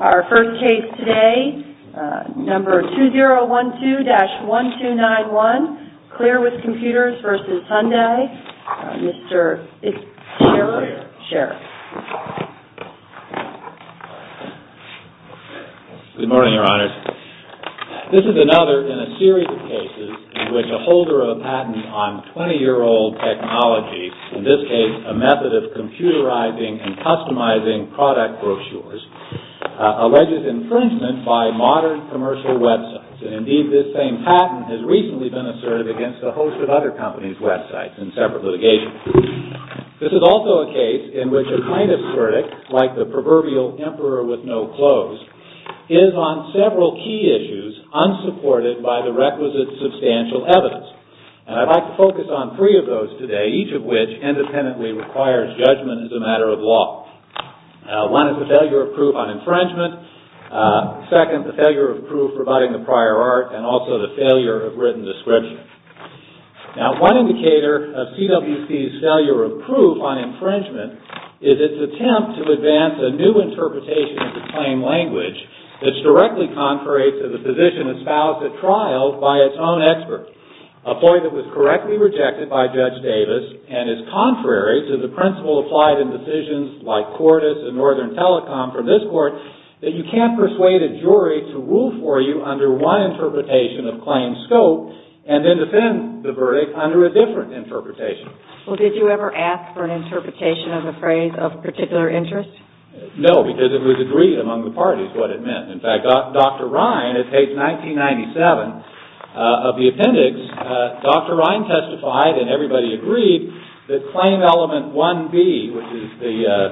Our first case today, number 2012-1291, CLEAR WITH COMPUTERS v. HYUNDAI. Mr. Sherriff, Sherriff. Good morning, Your Honor. This is another in a series of cases in which a holder of a patent on 20-year-old technology, in this case a method of computerizing and customizing product brochures, alleges infringement by modern commercial websites. And indeed, this same patent has recently been asserted against a host of other companies' websites in separate litigation. This is also a case in which a plaintiff's verdict, like the proverbial emperor with no clothes, is on several key issues unsupported by the requisite substantial evidence. And I'd like to focus on three of those today, each of which independently requires judgment as a matter of law. One is the failure of proof on infringement. Second, the failure of proof providing the prior art, and also the failure of written description. Now, one indicator of CWC's failure of proof on infringement is its attempt to advance a new interpretation of the claim language that's directly contrary to the position espoused at trial by its own expert, a point that was correctly rejected by Judge Davis and is contrary to the principle applied in decisions like Cordis and Northern Telecom from this Court, that you can't persuade a jury to rule for you under one interpretation of claim scope and then defend the verdict under a different interpretation. Well, did you ever ask for an interpretation of a phrase of particular interest? No, because it was agreed among the parties what it meant. In fact, Dr. Ryan, at page 1997 of the appendix, Dr. Ryan testified, and everybody agreed, that claim element 1B, which is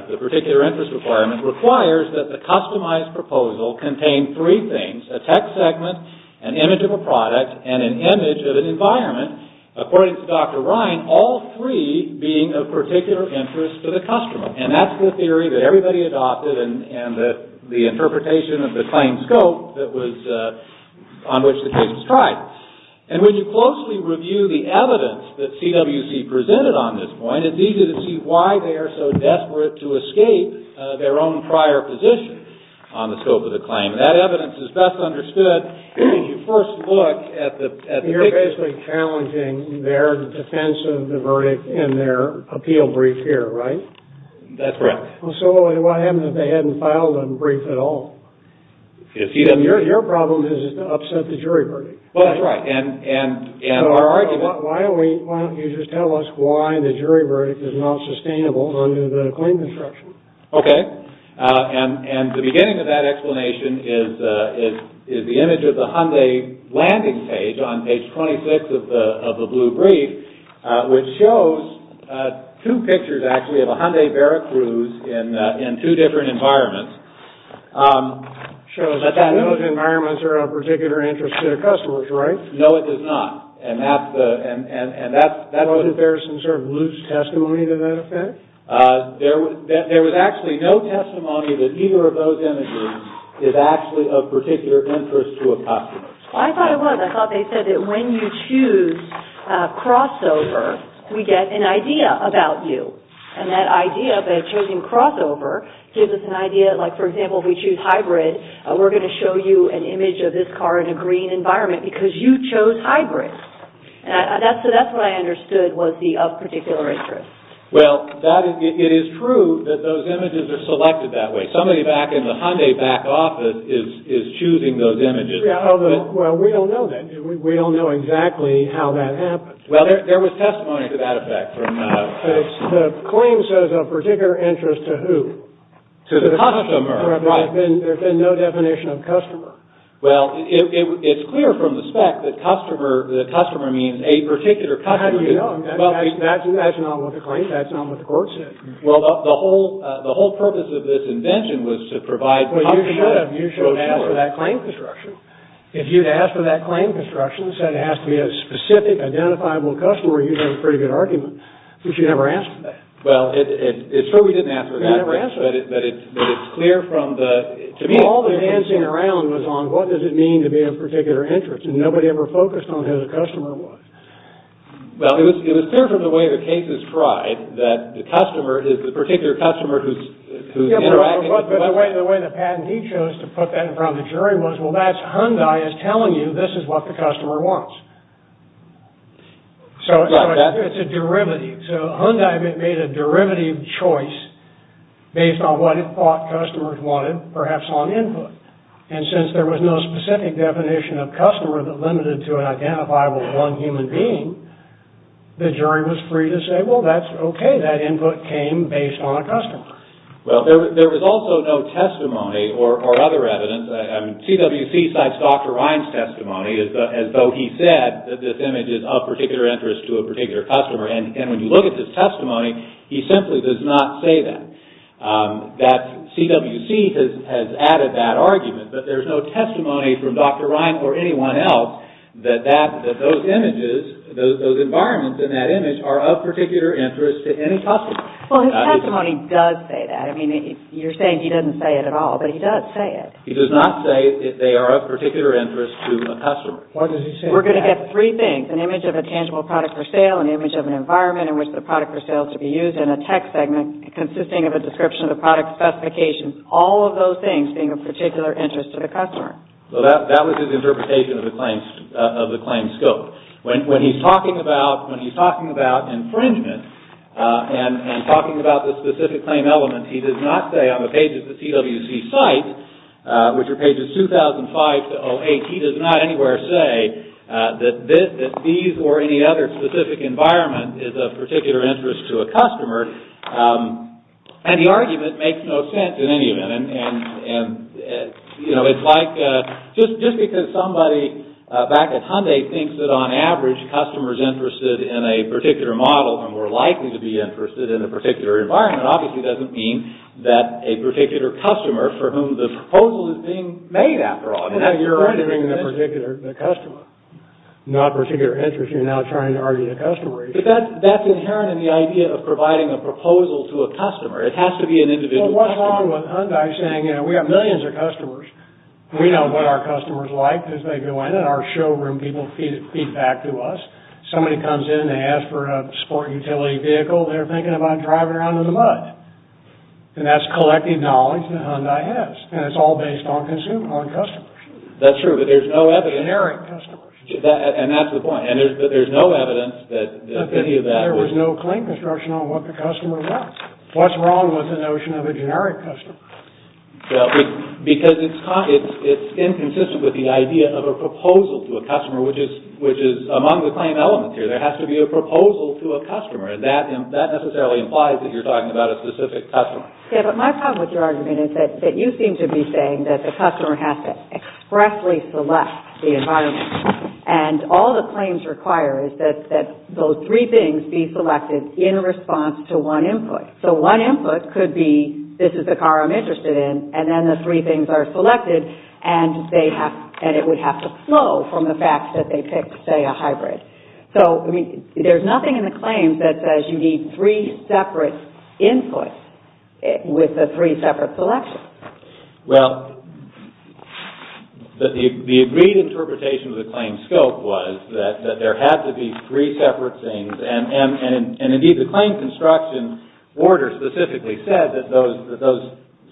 the particular interest requirement, requires that the customized proposal contain three things, a text segment, an image of a product, and an image of an environment, according to Dr. Ryan, all three being of particular interest to the customer. And that's the theory that everybody adopted and that the interpretation of the claim scope that was on which the case was tried. And when you closely review the evidence that CWC presented on this point, it's easy to see why they are so desperate to escape their own prior position on the scope of the claim. That evidence is best understood when you first look at the picture. They're basically challenging their defense of the verdict in their appeal brief here, right? That's right. So what happens if they hadn't filed a brief at all? Your problem is to upset the jury verdict. That's right. Why don't you just tell us why the jury verdict is not sustainable under the claim construction? Okay. And the beginning of that explanation is the image of the Hyundai landing page on page 26 of the blue brief, which shows two pictures, actually, of a Hyundai Veracruz in two different environments. It shows that those environments are of particular interest to the customers, right? No, it does not. And that's the... Wasn't there some sort of loose testimony to that effect? There was actually no testimony that either of those images is actually of particular interest to a customer. I thought it was. I thought they said that when you choose crossover, we get an idea about you. And that idea of a chosen crossover gives us an idea, like, for example, if we choose hybrid, we're going to show you an image of this car in a green environment because you chose hybrid. That's what I understood was the of particular interest. Well, it is true that those images are selected that way. Somebody back in the Hyundai back office is choosing those images. Well, we don't know that. We don't know exactly how that happens. Well, there was testimony to that effect. The claim says of particular interest to who? To the customer. There's been no definition of customer. Well, it's clear from the spec that customer means a particular customer. That's not what the claim says. That's not what the court said. Well, the whole purpose of this invention was to provide... Well, you should have. You should have asked for that claim construction. If you'd asked for that claim construction and said it has to be a specific identifiable customer, you'd have a pretty good argument, but you never asked for that. Well, it's true we didn't ask for that, but it's clear from the... To me, all the dancing around was on what does it mean to be of particular interest, and nobody ever focused on who the customer was. Well, it was clear from the way the case is tried that the customer is the particular customer who's interacting... Yeah, but the way the patent he chose to put that in front of the jury was, well, that's Hyundai is telling you this is what the customer wants. So it's a derivative. So Hyundai made a derivative choice based on what it thought customers wanted, perhaps on input. And since there was no specific definition of customer that limited to an identifiable one human being, the jury was free to say, well, that's okay. That input came based on a customer. Well, there was also no testimony or other evidence. CWC cites Dr. Ryan's testimony as though he said that this image is of particular interest to a particular customer, and when you look at his testimony, he simply does not say that. CWC has added that argument, but there's no testimony from Dr. Ryan or anyone else that those images, those environments in that image are of particular interest to any customer. Well, his testimony does say that. I mean, you're saying he doesn't say it at all, but he does say it. He does not say they are of particular interest to a customer. We're going to get three things, an image of a tangible product for sale, an image of an environment in which the product for sale is to be used, and an image in a tech segment consisting of a description of the product specifications, all of those things being of particular interest to the customer. Well, that was his interpretation of the claim scope. When he's talking about infringement and talking about the specific claim element, he does not say on the page of the CWC site, which are pages 2005 to 08, he does not anywhere say that these or any other specific environment is of particular interest to a customer. And the argument makes no sense in any event. And, you know, it's like just because somebody back at Hyundai thinks that, on average, customers interested in a particular model are more likely to be interested in a particular environment, obviously doesn't mean that a particular customer for whom the proposal is being made, after all. You're arguing the particular customer, not particular interest. You're now trying to argue the customer. But that's inherent in the idea of providing a proposal to a customer. It has to be an individual customer. Well, what's wrong with Hyundai saying, you know, we have millions of customers. We know what our customers like as they go in. In our showroom, people feed back to us. Somebody comes in, they ask for a sport utility vehicle, they're thinking about driving around in the mud. And that's collective knowledge that Hyundai has. And it's all based on consumers, on customers. That's true, but there's no evidence. Generic customers. And that's the point. But there's no evidence that any of that would... There was no claim construction on what the customer wants. What's wrong with the notion of a generic customer? Because it's inconsistent with the idea of a proposal to a customer, which is among the claim elements here. There has to be a proposal to a customer. And that necessarily implies that you're talking about a specific customer. Yeah, but my problem with your argument is that you seem to be saying that the customer has to expressly select the environment. And all the claims require is that those three things be selected in response to one input. So one input could be, this is the car I'm interested in, and then the three things are selected, and it would have to flow from the fact that they picked, say, a hybrid. So there's nothing in the claims that says you need three separate inputs with the three separate selections. Well, the agreed interpretation of the claim scope was that there had to be three separate things. And indeed, the claim construction order specifically said that those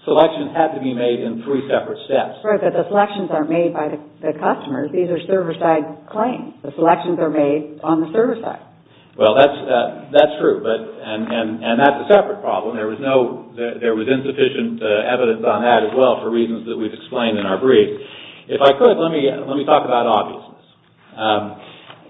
selections had to be made in three separate steps. Right, that the selections aren't made by the customers. These are server-side claims. The selections are made on the server side. Well, that's true, and that's a separate problem. There was insufficient evidence on that as well for reasons that we've explained in our brief. If I could, let me talk about obviousness.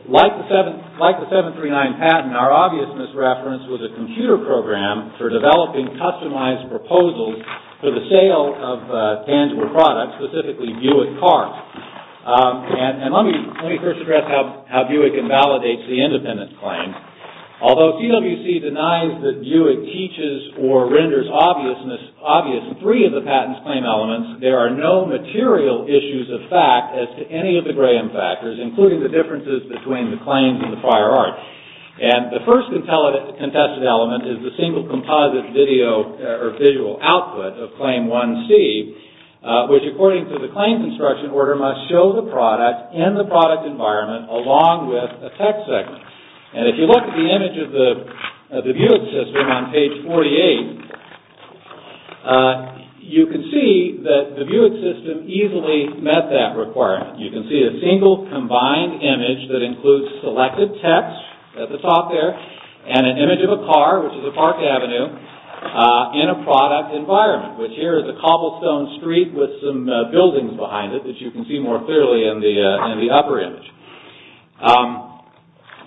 Like the 739 patent, our obviousness reference was a computer program for developing customized proposals for the sale of tangible products, specifically Buick cars. And let me first address how Buick invalidates the independence claim. Although CWC denies that Buick teaches or renders obvious three of the patent's claim elements, there are no material issues of fact as to any of the graham factors, including the differences between the claims and the prior art. And the first contested element is the single composite video or visual output of Claim 1C, which according to the claim construction order must show the product in the product environment along with a text segment. And if you look at the image of the Buick system on page 48, you can see that the Buick system easily met that requirement. You can see a single combined image that includes selected text at the top there and an image of a car, which is a park avenue, in a product environment, which here is a cobblestone street with some buildings behind it, as you can see more clearly in the upper image.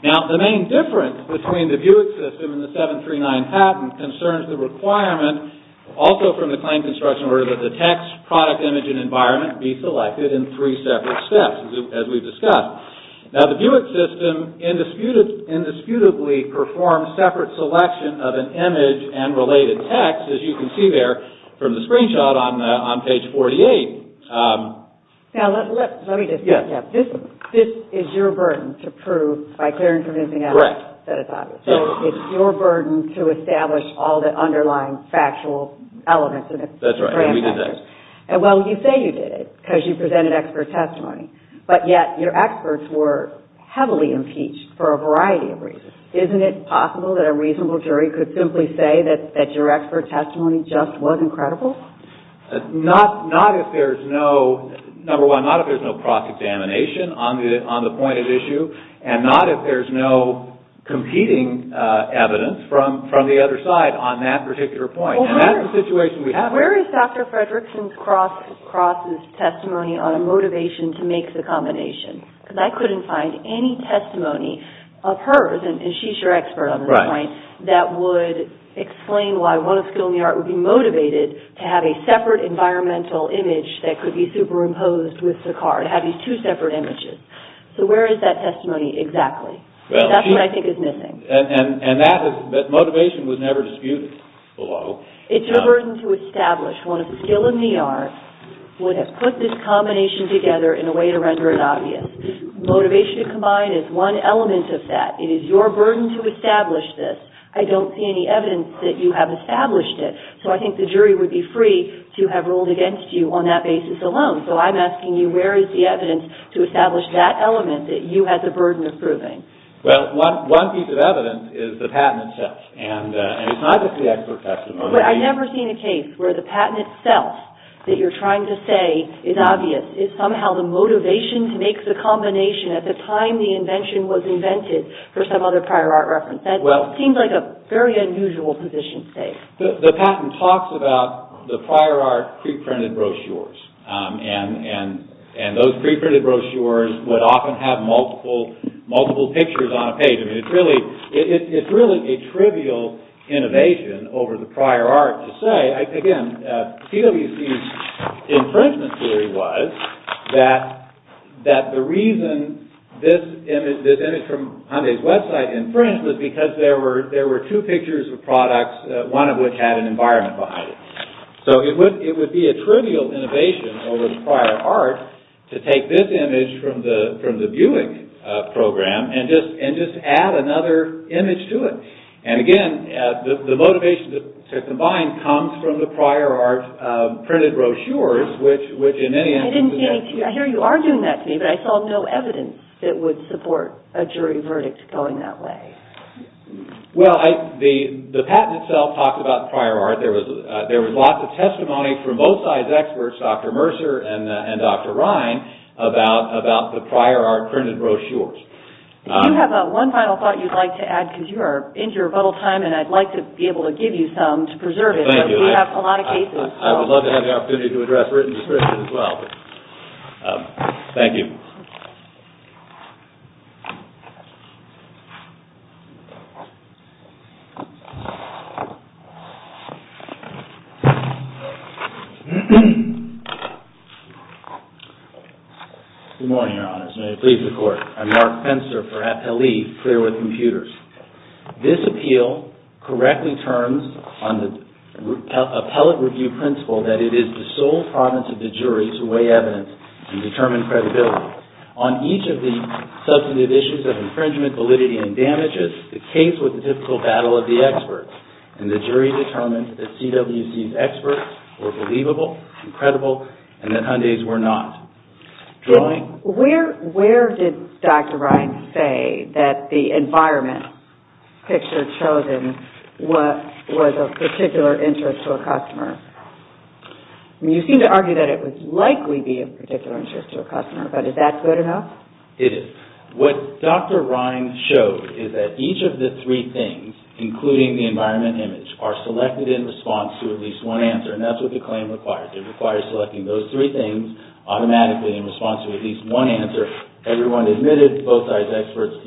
Now, the main difference between the Buick system and the 739 patent concerns the requirement, also from the claim construction order, that the text, product image, and environment be selected in three separate steps, as we've discussed. Now, the Buick system indisputably performs separate selection of an image and related text, as you can see there from the screenshot on page 48. Now, let me just say this. This is your burden to prove by clearing from anything else. Correct. So it's your burden to establish all the underlying factual elements of the graham factors. That's right, and we did that. Well, you say you did it because you presented expert testimony, but yet your experts were heavily impeached for a variety of reasons. Isn't it possible that a reasonable jury could simply say that your expert testimony just wasn't credible? Not if there's no, number one, not if there's no proc examination on the point at issue, and not if there's no competing evidence from the other side on that particular point, and that's the situation we have here. Now, where is Dr. Fredrickson's cross's testimony on a motivation to make the combination? Because I couldn't find any testimony of hers, and she's your expert on this point, that would explain why one of Skiddle New York would be motivated to have a separate environmental image that could be superimposed with the car, to have these two separate images. So where is that testimony exactly? That's what I think is missing. And that motivation was never disputed below. It's your burden to establish one of Skiddle New York would have put this combination together in a way to render it obvious. Motivation combined is one element of that. It is your burden to establish this. I don't see any evidence that you have established it, so I think the jury would be free to have ruled against you on that basis alone. So I'm asking you, where is the evidence to establish that element that you had the burden of proving? Well, one piece of evidence is the patent itself, and it's not just the expert testimony. But I've never seen a case where the patent itself that you're trying to say is obvious. It's somehow the motivation to make the combination at the time the invention was invented for some other prior art reference. That seems like a very unusual position to take. And those preprinted brochures would often have multiple pictures on a page. I mean, it's really a trivial innovation over the prior art to say. Again, PWC's infringement theory was that the reason this image from Hyundai's website infringed was because there were two pictures of products, one of which had an environment behind it. So it would be a trivial innovation over the prior art to take this image from the Buick program and just add another image to it. And again, the motivation to combine comes from the prior art printed brochures, which in any instance... I didn't get any to you. I hear you are doing that to me, but I saw no evidence that would support a jury verdict going that way. Well, the patent itself talks about prior art. There was lots of testimony from both sides' experts, Dr. Mercer and Dr. Ryan, about the prior art printed brochures. Do you have one final thought you'd like to add? Because you are into your rebuttal time, and I'd like to be able to give you some to preserve it. Thank you. We have a lot of cases. I would love to have the opportunity to address written description as well. Thank you. Good morning, Your Honors. May it please the Court. I'm Mark Fenster for Appellee, Clear with Computers. This appeal correctly turns on the appellate review principle that it is the sole province of the jury to weigh evidence and determine credibility. On each of the substantive issues of infringement, validity, and damages, the case was a typical battle of the experts, and the jury determined that CWC's experts were believable, credible, and that Hyundai's were not. Where did Dr. Ryan say that the environment picture chosen was of particular interest to a customer? You seem to argue that it would likely be of particular interest to a customer, but is that good enough? It is. What Dr. Ryan showed is that each of the three things, including the environment image, are selected in response to at least one answer, and that's what the claim requires. It requires selecting those three things automatically in response to at least one answer. Everyone admitted, both sides, experts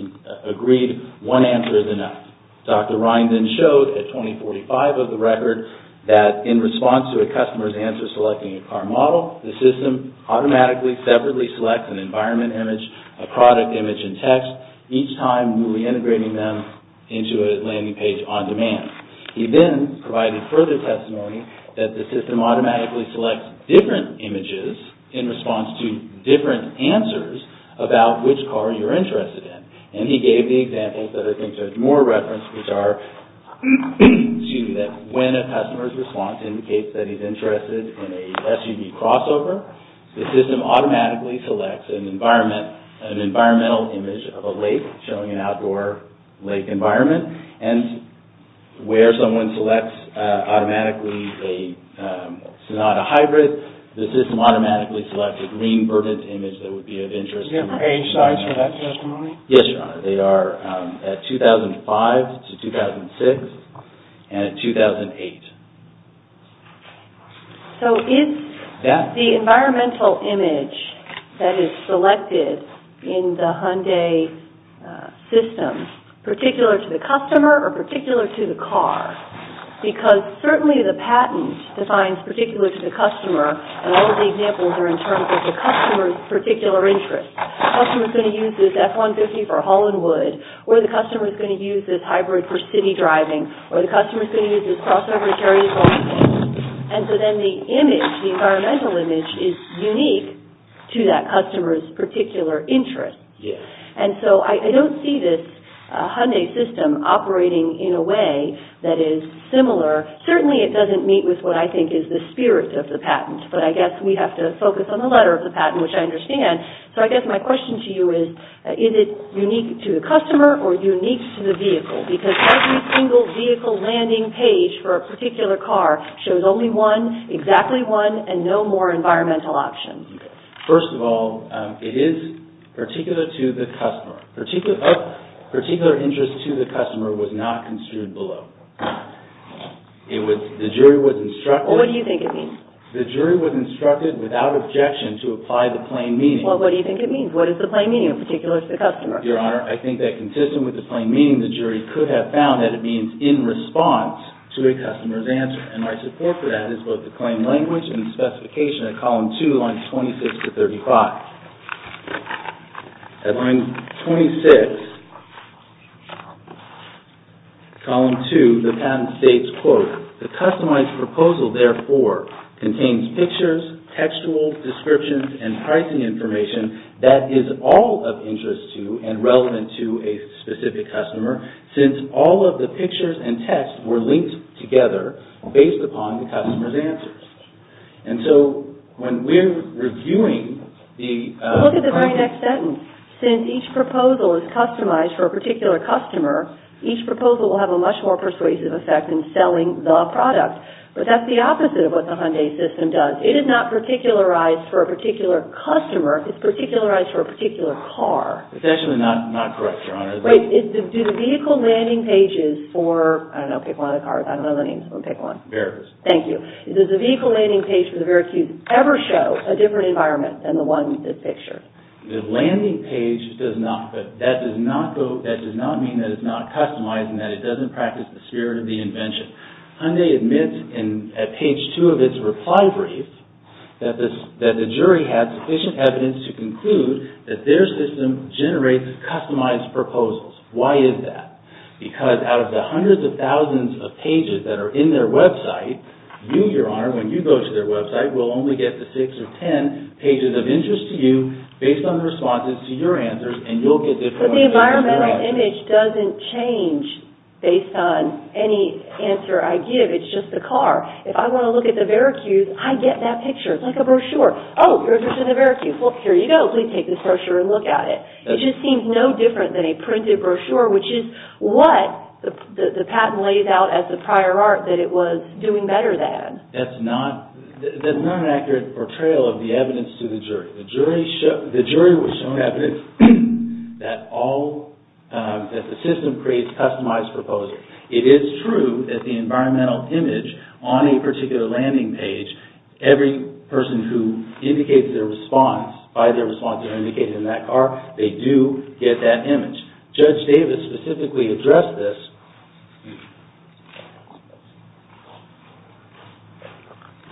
agreed one answer is enough. Dr. Ryan then showed at 2045 of the record that in response to a customer's answer selecting a car model, the system automatically separately selects an environment image, a product image, and text, each time reintegrating them into a landing page on demand. He then provided further testimony that the system automatically selects different images in response to different answers about which car you're interested in, and he gave the examples that I think are more referenced, which are two, that when a customer's response indicates that he's interested in a SUV crossover, the system automatically selects an environmental image of a lake showing an outdoor lake environment, and where someone selects automatically a Sonata Hybrid, the system automatically selects a green verdant image that would be of interest. Is there a page size for that testimony? Yes, Your Honor. They are at 2005 to 2006, and at 2008. So, is the environmental image that is selected in the Hyundai system particular to the customer or particular to the car? Because certainly the patent defines particular to the customer, and all the examples are in terms of the customer's particular interest. The customer's going to use this F-150 for Hollywood, or the customer's going to use this Hybrid for city driving, or the customer's going to use this crossover to carry his own things. And so then the image, the environmental image, is unique to that customer's particular interest. And so I don't see this Hyundai system operating in a way that is similar. Certainly it doesn't meet with what I think is the spirit of the patent, but I guess we have to focus on the letter of the patent, which I understand. So I guess my question to you is, is it unique to the customer or unique to the vehicle? Because every single vehicle landing page for a particular car shows only one, exactly one, and no more environmental options. First of all, it is particular to the customer. Particular interest to the customer was not construed below. What do you think it means? The jury was instructed, without objection, to apply the plain meaning. Well, what do you think it means? What is the plain meaning, in particular, to the customer? Your Honor, I think that consistent with the plain meaning, the jury could have found that it means in response to a customer's answer. And my support for that is both the claim language and the specification at column 2, lines 26 to 35. At line 26, column 2, the patent states, quote, The customized proposal, therefore, contains pictures, textual descriptions, and pricing information that is all of interest to and relevant to a specific customer, since all of the pictures and text were linked together based upon the customer's answers. And so when we're reviewing the… Look at the very next sentence. Since each proposal is customized for a particular customer, each proposal will have a much more persuasive effect in selling the product. But that's the opposite of what the Hyundai system does. It is not particularized for a particular customer. It's particularized for a particular car. It's actually not correct, Your Honor. Wait. Do the vehicle landing pages for… I don't know. Pick one of the cars. I don't know the names. Pick one. Veracruz. Does the vehicle landing page for the Veracruz ever show a different environment than the one in this picture? The landing page does not. That does not go… That does not mean that it's not customized and that it doesn't practice the spirit of the invention. Hyundai admits at page two of its reply brief that the jury had sufficient evidence to conclude that their system generates customized proposals. Why is that? Because out of the hundreds of thousands of pages that are in their website, you, Your Honor, when you go to their website, will only get the six or ten pages of interest to you based on responses to your answers, and you'll get different… But the environmental image doesn't change based on any answer I give. It's just the car. If I want to look at the Veracruz, I get that picture. It's like a brochure. Oh, you're interested in the Veracruz. Well, here you go. Please take this brochure and look at it. It just seems no different than a printed brochure, which is what the patent lays out as the prior art that it was doing better than. That's not an accurate portrayal of the evidence to the jury. The jury was shown evidence that the system creates customized proposals. It is true that the environmental image on a particular landing page, every person who indicates their response, by their response, or indicated in that car, they do get that image. Judge Davis specifically addressed this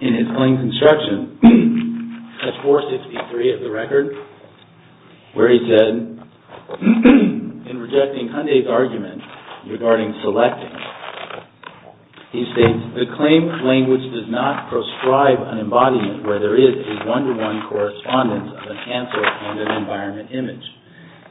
in his claim construction, page 463 of the record, where he said, in rejecting Hyundai's argument regarding selecting, he states, the claim language does not prescribe an embodiment where there is a one-to-one correspondence of a cancer and an environment image.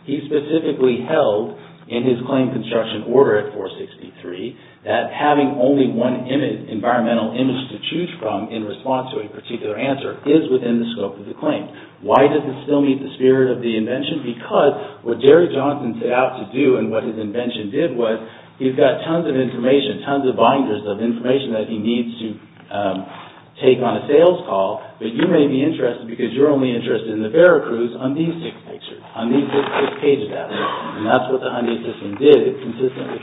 He specifically held, in his claim construction order at 463, that having only one environmental image to choose from in response to a particular answer is within the scope of the claim. Why does it still meet the spirit of the invention? Because what Jerry Johnson set out to do and what his invention did was, he's got tons of information, tons of binders of information that he needs to take on a sales call, but you may be interested, because you're only interested in the Veracruz, on these six pictures, on these six pages out there. And that's what the Hyundai system did.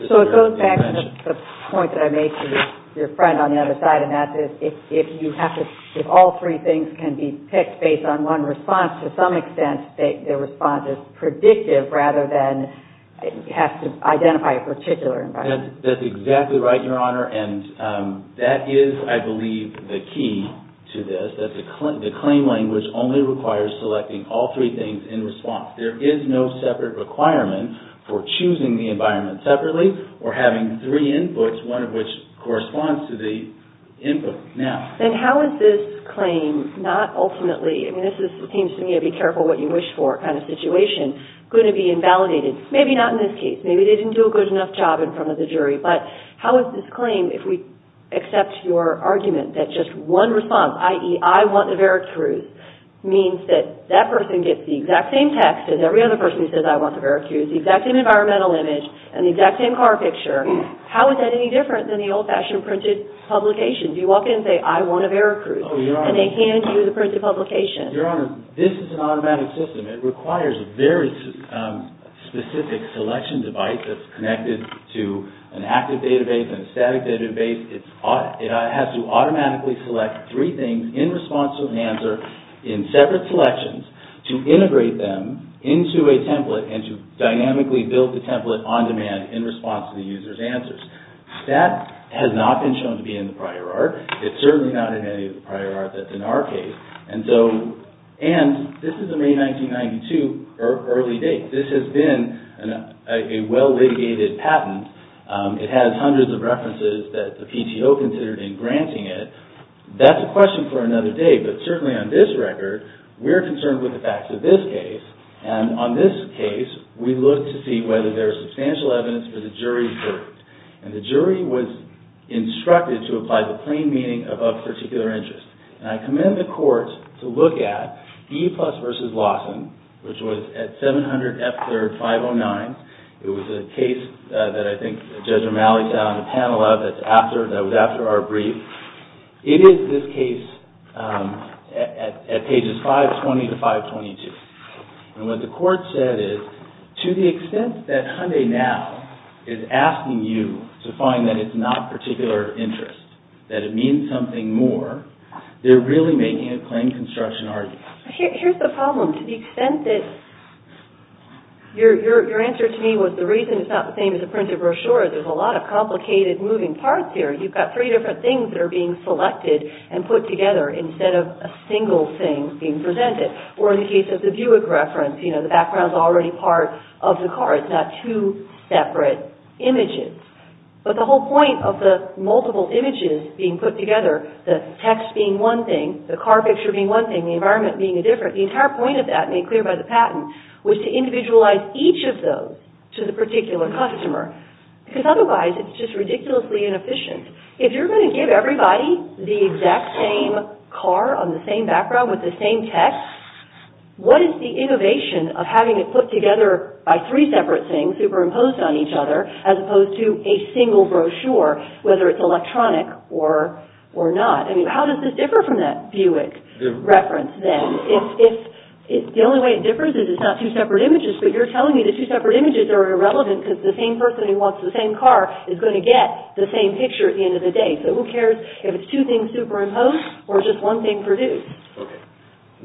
So it goes back to the point that I made to your friend on the other side, and that's if you have to, if all three things can be picked based on one response, to some extent the response is predictive rather than it has to identify a particular environment. That's exactly right, Your Honor, and that is, I believe, the key to this, that the claim language only requires selecting all three things in response. There is no separate requirement for choosing the environment separately or having three inputs, one of which corresponds to the input now. Then how is this claim not ultimately, I mean this seems to me a be careful what you wish for kind of situation, going to be invalidated? Maybe not in this case, maybe they didn't do a good enough job in front of the jury, but how is this claim, if we accept your argument that just one response, i.e., I want the Veracruz, means that that person gets the exact same text as every other person who says I want the Veracruz, the exact same environmental image, and the exact same car picture, how is that any different than the old-fashioned printed publications? You walk in and say, I want a Veracruz, and they hand you the printed publication. Your Honor, this is an automatic system. It requires a very specific selection device that's connected to an active database and a static database. It has to automatically select three things in response to an answer in separate selections to integrate them into a template and to dynamically build the template on demand in response to the user's answers. That has not been shown to be in the prior art. It's certainly not in any of the prior art that's in our case. And this is a May 1992 early date. This has been a well-litigated patent. It has hundreds of references that the PTO considered in granting it. That's a question for another day, but certainly on this record, we're concerned with the facts of this case. And on this case, we look to see whether there is substantial evidence for the jury's verdict. And the jury was instructed to apply the plain meaning of a particular interest. And I commend the Court to look at Eplus v. Lawson, which was at 700 F. 3rd, 509. It was a case that I think Judge Romali sat on the panel of that was after our brief. It is this case at pages 520 to 522. And what the Court said is, to the extent that Hyundai Now is asking you to find that it's not particular interest, that it means something more, they're really making a plain construction argument. Here's the problem. To the extent that your answer to me was the reason it's not the same as a printed brochure, there's a lot of complicated moving parts here. You've got three different things that are being selected and put together instead of a single thing being presented. Or in the case of the Buick reference, you know, the background's already part of the car. It's not two separate images. But the whole point of the multiple images being put together, the text being one thing, the car picture being one thing, the environment being different, the entire point of that made clear by the patent was to individualize each of those to the particular customer because otherwise it's just ridiculously inefficient. If you're going to give everybody the exact same car on the same background with the same text, what is the innovation of having it put together by three separate things superimposed on each other as opposed to a single brochure, whether it's electronic or not? How does this differ from that Buick reference then? The only way it differs is it's not two separate images, but you're telling me the two separate images are irrelevant because the same person who wants the same car is going to get the same picture at the end of the day. So who cares if it's two things superimposed or just one thing produced? Okay.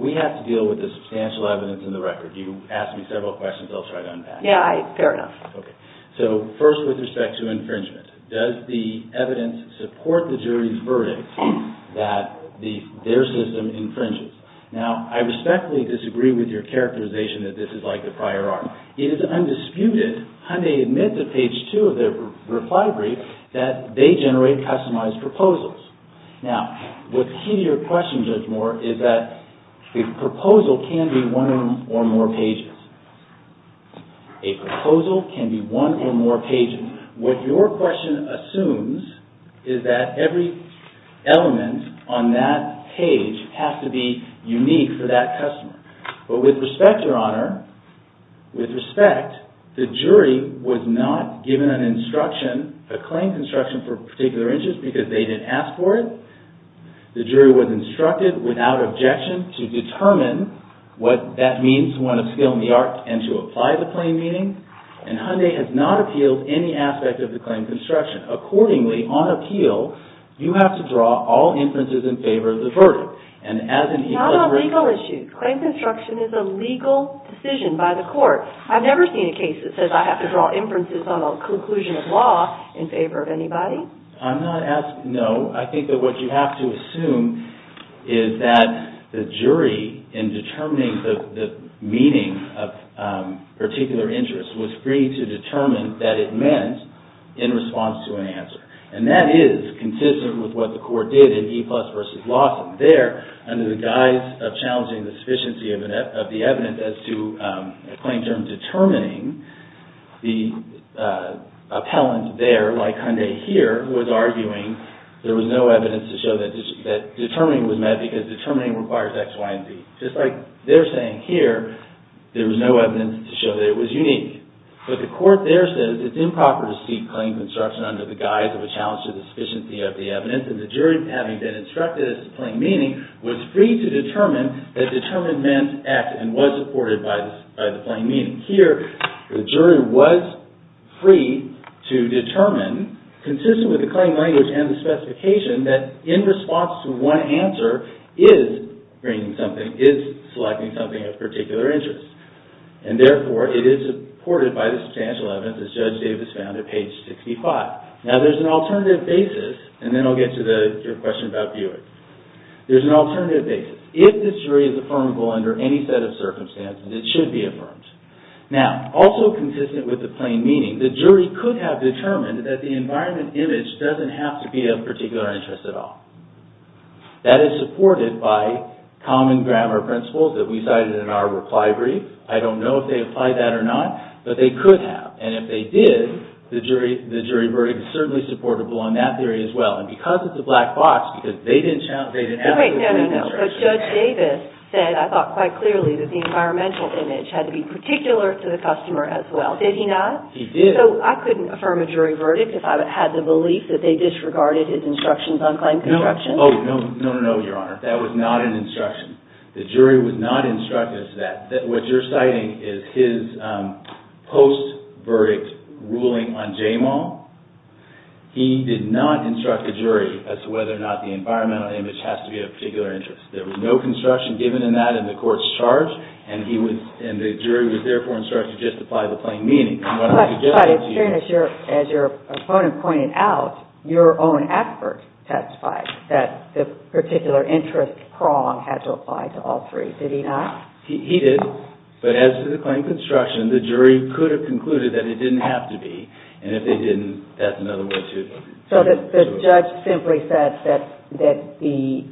We have to deal with the substantial evidence in the record. You asked me several questions. I'll try to unpack them. Yeah, fair enough. Okay. So first with respect to infringement, does the evidence support the jury's verdict that their system infringes? Now, I respectfully disagree with your characterization that this is like the prior art. It is undisputed, Hyundai admits at page two of their reply brief, that they generate customized proposals. Now, the key to your question, Judge Moore, is that the proposal can be one or more pages. A proposal can be one or more pages. What your question assumes is that every element on that page has to be unique for that customer. But with respect, Your Honor, with respect, the jury was not given an instruction, a claim construction for a particular interest because they didn't ask for it. The jury was instructed without objection to determine what that means, to want to scale in the art and to apply the claim meaning. And Hyundai has not appealed any aspect of the claim construction. Accordingly, on appeal, you have to draw all inferences in favor of the verdict. Not on legal issues. Claim construction is a legal decision by the court. I've never seen a case that says I have to draw inferences on a conclusion of law in favor of anybody. I'm not asking, no. I think that what you have to assume is that the jury, in determining the meaning of a particular interest, was free to determine that it meant in response to an answer. And that is consistent with what the court did in E plus versus Lawson. There, under the guise of challenging the sufficiency of the evidence as to a claim term determining, the appellant there, like Hyundai here, was arguing there was no evidence to show that determining was meant because determining requires X, Y, and Z. Just like they're saying here, there was no evidence to show that it was unique. But the court there says it's improper to seek claim construction under the guise of a challenge to the sufficiency of the evidence. And the jury, having been instructed as to claim meaning, was free to determine that determined meant X and was supported by the claim meaning. Here, the jury was free to determine, consistent with the claim language and the specification, that in response to one answer is selecting something of particular interest. And therefore, it is supported by the substantial evidence, as Judge Davis found at page 65. Now, there's an alternative basis, and then I'll get to your question about viewing. There's an alternative basis. If this jury is affirmable under any set of circumstances, it should be affirmed. Now, also consistent with the claim meaning, the jury could have determined that the environment image doesn't have to be of particular interest at all. That is supported by common grammar principles that we cited in our reply brief. I don't know if they applied that or not, but they could have. And if they did, the jury verdict is certainly supportable on that theory as well. And because it's a black box, because they didn't have to... But Judge Davis said, I thought quite clearly, that the environmental image had to be particular to the customer as well. Did he not? He did. So I couldn't affirm a jury verdict if I had the belief that they disregarded his instructions on claim construction? Oh, no, no, no, Your Honor. That was not an instruction. The jury was not instructed as to that. What you're citing is his post-verdict ruling on JMAW. He did not instruct the jury as to whether or not the environmental image has to be of particular interest. There was no construction given in that in the court's charge, and the jury was therefore instructed just to apply the plain meaning. But, as your opponent pointed out, your own expert testified that the particular interest prong had to apply to all three. Did he not? He did. But as to the claim construction, the jury could have concluded that it didn't have to be. And if they didn't, that's another way to... So the judge simply said that the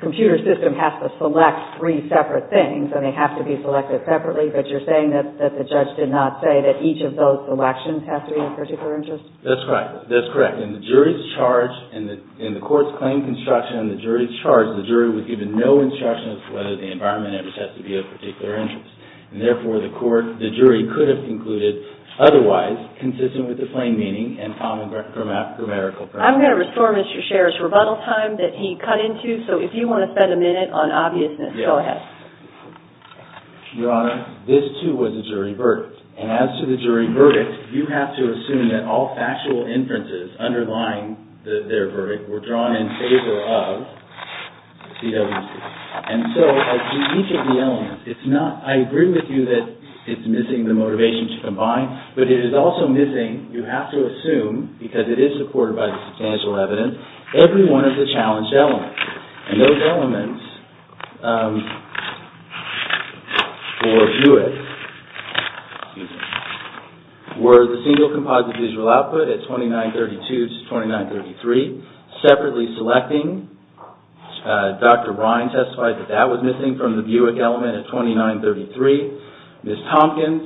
computer system has to select three separate things, and they have to be selected separately, but you're saying that the judge did not say that each of those selections has to be of particular interest? That's correct. That's correct. In the jury's charge, in the court's claim construction, in the jury's charge, the jury was given no instruction as to whether the environmental image has to be of particular interest. And therefore, the jury could have concluded otherwise, consistent with the plain meaning and common grammatical premise. I'm going to restore Mr. Sherr's rebuttal time that he cut into. So if you want to spend a minute on obviousness, go ahead. Your Honor, this, too, was a jury verdict. And as to the jury verdict, you have to assume that all factual inferences underlying their verdict were drawn in favor of CWC. And so, as to each of the elements, it's not... I agree with you that it's missing the motivation to combine, but it is also missing, you have to assume, because it is supported by the substantial evidence, every one of the challenged elements. And those elements for Buick were the single composite visual output at 2932 to 2933, separately selecting. Dr. Ryan testified that that was missing from the Buick element at 2933. Ms. Tompkins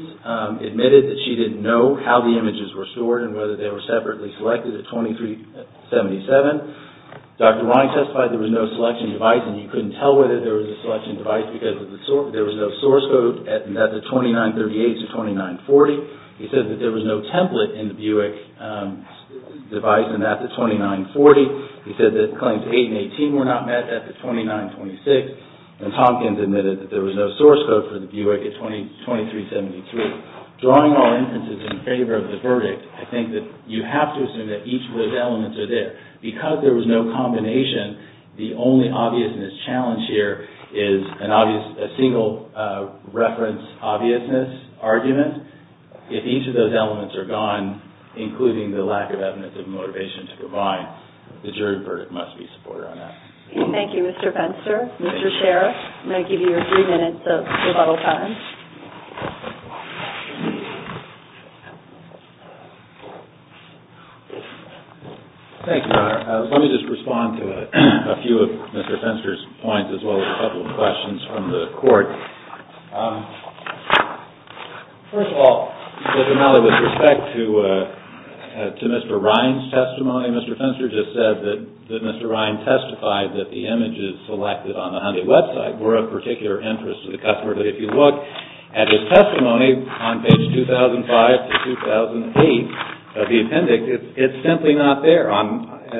admitted that she didn't know how the images were stored and whether they were separately selected at 2377. Dr. Ryan testified there was no selection device and he couldn't tell whether there was a selection device because there was no source code at the 2938 to 2940. He said that there was no template in the Buick device and at the 2940. He said that Claims 8 and 18 were not met at the 2926. Ms. Tompkins admitted that there was no source code for the Buick at 2373. Drawing all inferences in favor of the verdict, I think that you have to assume that each of those elements are there because there was no combination. The only obviousness challenge here is a single reference obviousness argument. If each of those elements are gone, including the lack of evidence of motivation to provide, the jury verdict must be supported on that. Thank you, Mr. Fenster. Mr. Scherer, I'm going to give you your three minutes of rebuttal time. Thank you, Your Honor. Let me just respond to a few of Mr. Fenster's points as well as a couple of questions from the court. First of all, with respect to Mr. Ryan's testimony, Mr. Fenster just said that Mr. Ryan testified that the images selected on the Hyundai website were of particular interest to the customer. But if you look at his testimony on page 2005 to 2008 of the appendix, it's simply not there.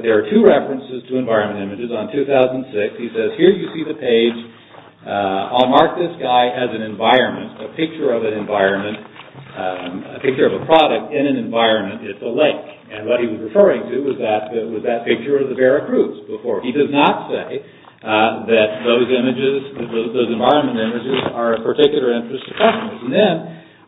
There are two references to environment images. On 2006, he says, here you see the page. I'll mark this guy as an environment, a picture of an environment, a picture of a product in an environment at the lake. And what he was referring to was that picture of the Veracruz before. He does not say that those images, those environment images are of particular interest to customers. And then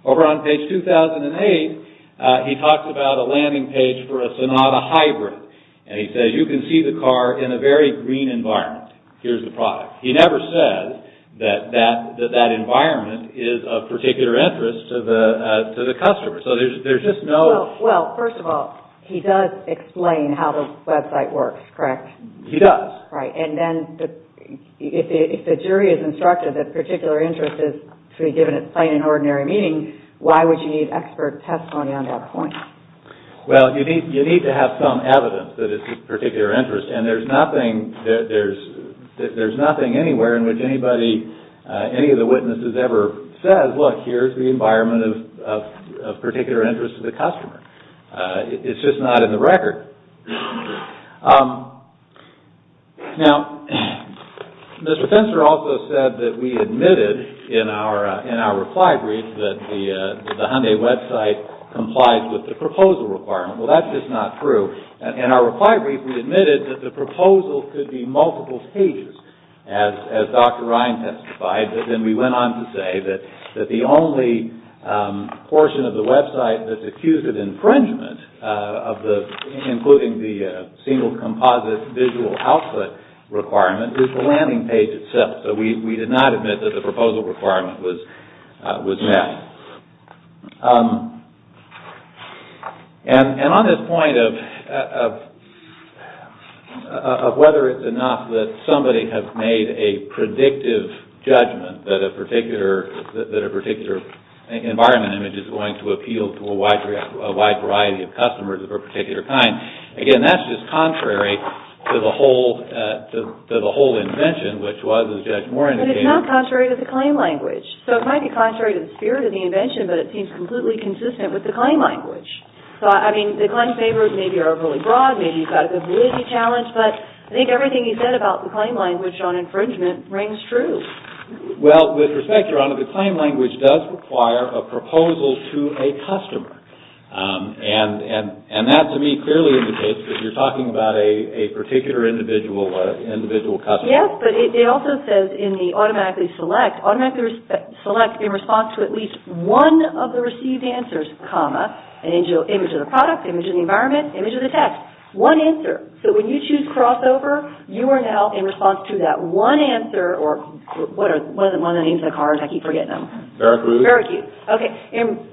over on page 2008, he talks about a landing page for a Sonata Hybrid. And he says, you can see the car in a very green environment. Here's the product. He never says that that environment is of particular interest to the customer. So there's just no – Well, first of all, he does explain how the website works, correct? He does. Right. And then if the jury is instructed that particular interest is to be given at plain and ordinary meaning, why would you need expert testimony on that point? Well, you need to have some evidence that it's of particular interest. And there's nothing anywhere in which anybody, any of the witnesses ever says, look, here's the environment of particular interest to the customer. It's just not in the record. Now, Mr. Spencer also said that we admitted in our reply brief that the Hyundai website complies with the proposal requirement. Well, that's just not true. In our reply brief, we admitted that the proposal could be multiple pages, as Dr. Ryan testified. And then we went on to say that the only portion of the website that's accused of infringement, including the single composite visual output requirement, is the landing page itself. So we did not admit that the proposal requirement was met. And on this point of whether it's enough that somebody has made a predictive judgment that a particular environment image is going to appeal to a wide variety of customers of a particular kind, again, that's just contrary to the whole invention, which was, as Judge Moore indicated... But it's not contrary to the claim language. So it might be contrary to the spirit of the invention, but it seems completely consistent with the claim language. So, I mean, the claim favors maybe are really broad. Maybe you've got a good validity challenge. But I think everything he said about the claim language on infringement rings true. Well, with respect, Your Honor, the claim language does require a proposal to a customer. And that, to me, clearly indicates that you're talking about a particular individual customer. Yes, but it also says in the automatically select, automatically select in response to at least one of the received answers, comma, an image of the product, image of the environment, image of the text. One answer. So when you choose crossover, you are now in response to that one answer, or one of the names of the cars, I keep forgetting them. Barracuda. Barracuda. Okay.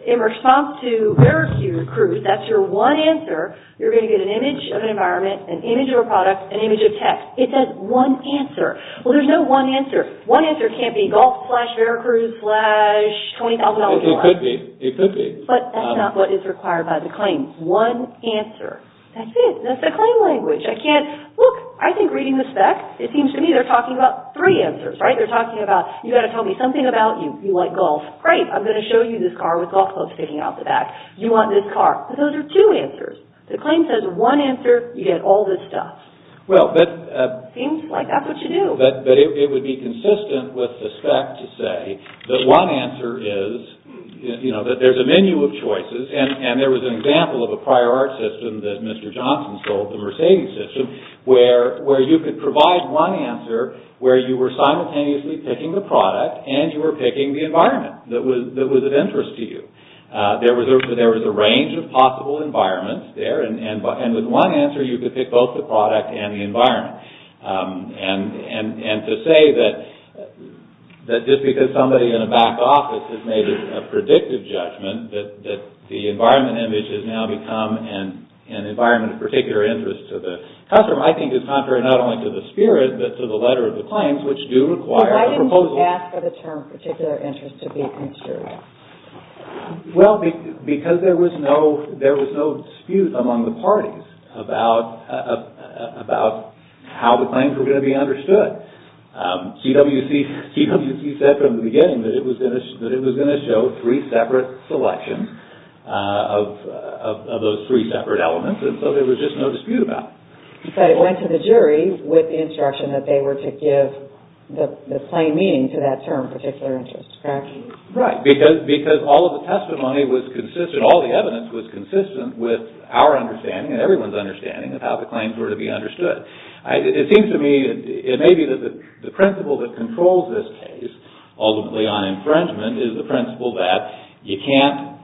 In response to Barracuda, Cruz, that's your one answer, you're going to get an image of an environment, an image of a product, an image of text. It says one answer. Well, there's no one answer. One answer can't be golf slash Barracuda slash $20,000. It could be. It could be. But that's not what is required by the claim. One answer. That's it. That's the claim language. I can't, look, I think reading the spec, it seems to me they're talking about three answers, right? They're talking about, you've got to tell me something about you. You like golf. Great, I'm going to show you this car with golf clubs sticking out the back. You want this car. But those are two answers. The claim says one answer, you get all this stuff. Well, but. Seems like that's what you do. But it would be consistent with the spec to say that one answer is, you know, that there's a menu of choices, and there was an example of a prior art system that Mr. Johnson sold, the Mercedes system, where you could provide one answer where you were simultaneously picking the product and you were picking the environment that was of interest to you. There was a range of possible environments there, and with one answer you could pick both the product and the environment. And to say that just because somebody in a back office has made a predictive judgment, that the environment image has now become an environment of particular interest to the customer, I think is contrary not only to the spirit, but to the letter of the claims, which do require a proposal. Why didn't you ask for the term particular interest to be considered? Well, because there was no dispute among the parties about how the claims were going to be understood. TWC said from the beginning that it was going to show three separate selections of those three separate elements, and so there was just no dispute about it. But it went to the jury with the instruction that they were to give the plain meaning to that term particular interest, correct? Right, because all of the testimony was consistent, all the evidence was consistent with our understanding and everyone's understanding of how the claims were to be understood. It seems to me, it may be that the principle that controls this case, ultimately on infringement, is the principle that you can't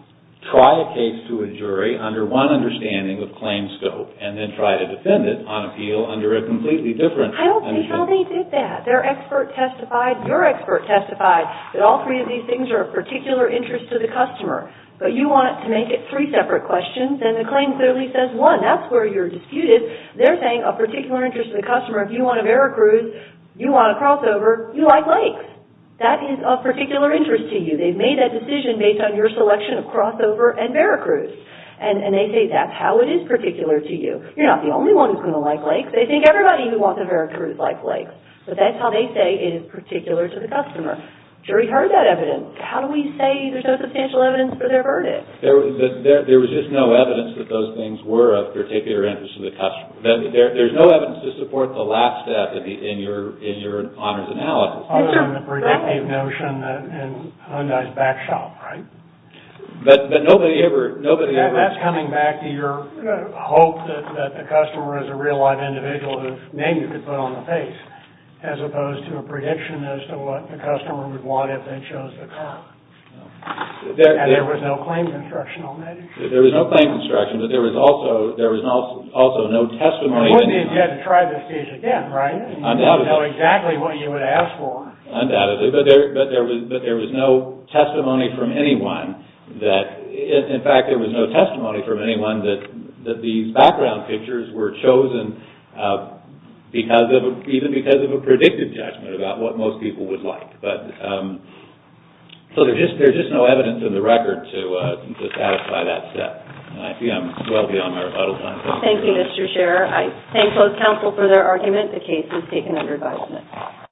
try a case to a jury under one understanding of claim scope and then try to defend it on appeal under a completely different understanding. I don't see how they did that. Their expert testified, your expert testified, that all three of these things are of particular interest to the customer, but you want to make it three separate questions, and the claim clearly says one. That's where you're disputed. They're saying of particular interest to the customer, if you want a Veracruz, you want a crossover, you like lakes. That is of particular interest to you. They've made that decision based on your selection of crossover and Veracruz, and they say that's how it is particular to you. You're not the only one who's going to like lakes. They think everybody who wants a Veracruz likes lakes, but that's how they say it is particular to the customer. Jury heard that evidence. How do we say there's no substantial evidence for their verdict? There was just no evidence that those things were of particular interest to the customer. There's no evidence to support the last step in your honors analysis. Other than the predictive notion in Hyundai's back shop, right? But nobody ever... That's coming back to your hope that the customer is a real-life individual whose name you could put on the face, as opposed to a prediction as to what the customer would want if they chose the car. And there was no claim construction on that issue. There was no claim construction, but there was also no testimony... Wouldn't be if you had to try this case again, right? Undoubtedly. You wouldn't know exactly what you would ask for. Undoubtedly, but there was no testimony from anyone that... In fact, there was no testimony from anyone that these background pictures were chosen even because of a predictive judgment about what most people would like. So there's just no evidence in the record to satisfy that step. I see I'm well beyond my rebuttal time. Thank you, Mr. Scherer. I thank both counsel for their argument. The case is taken under advisement.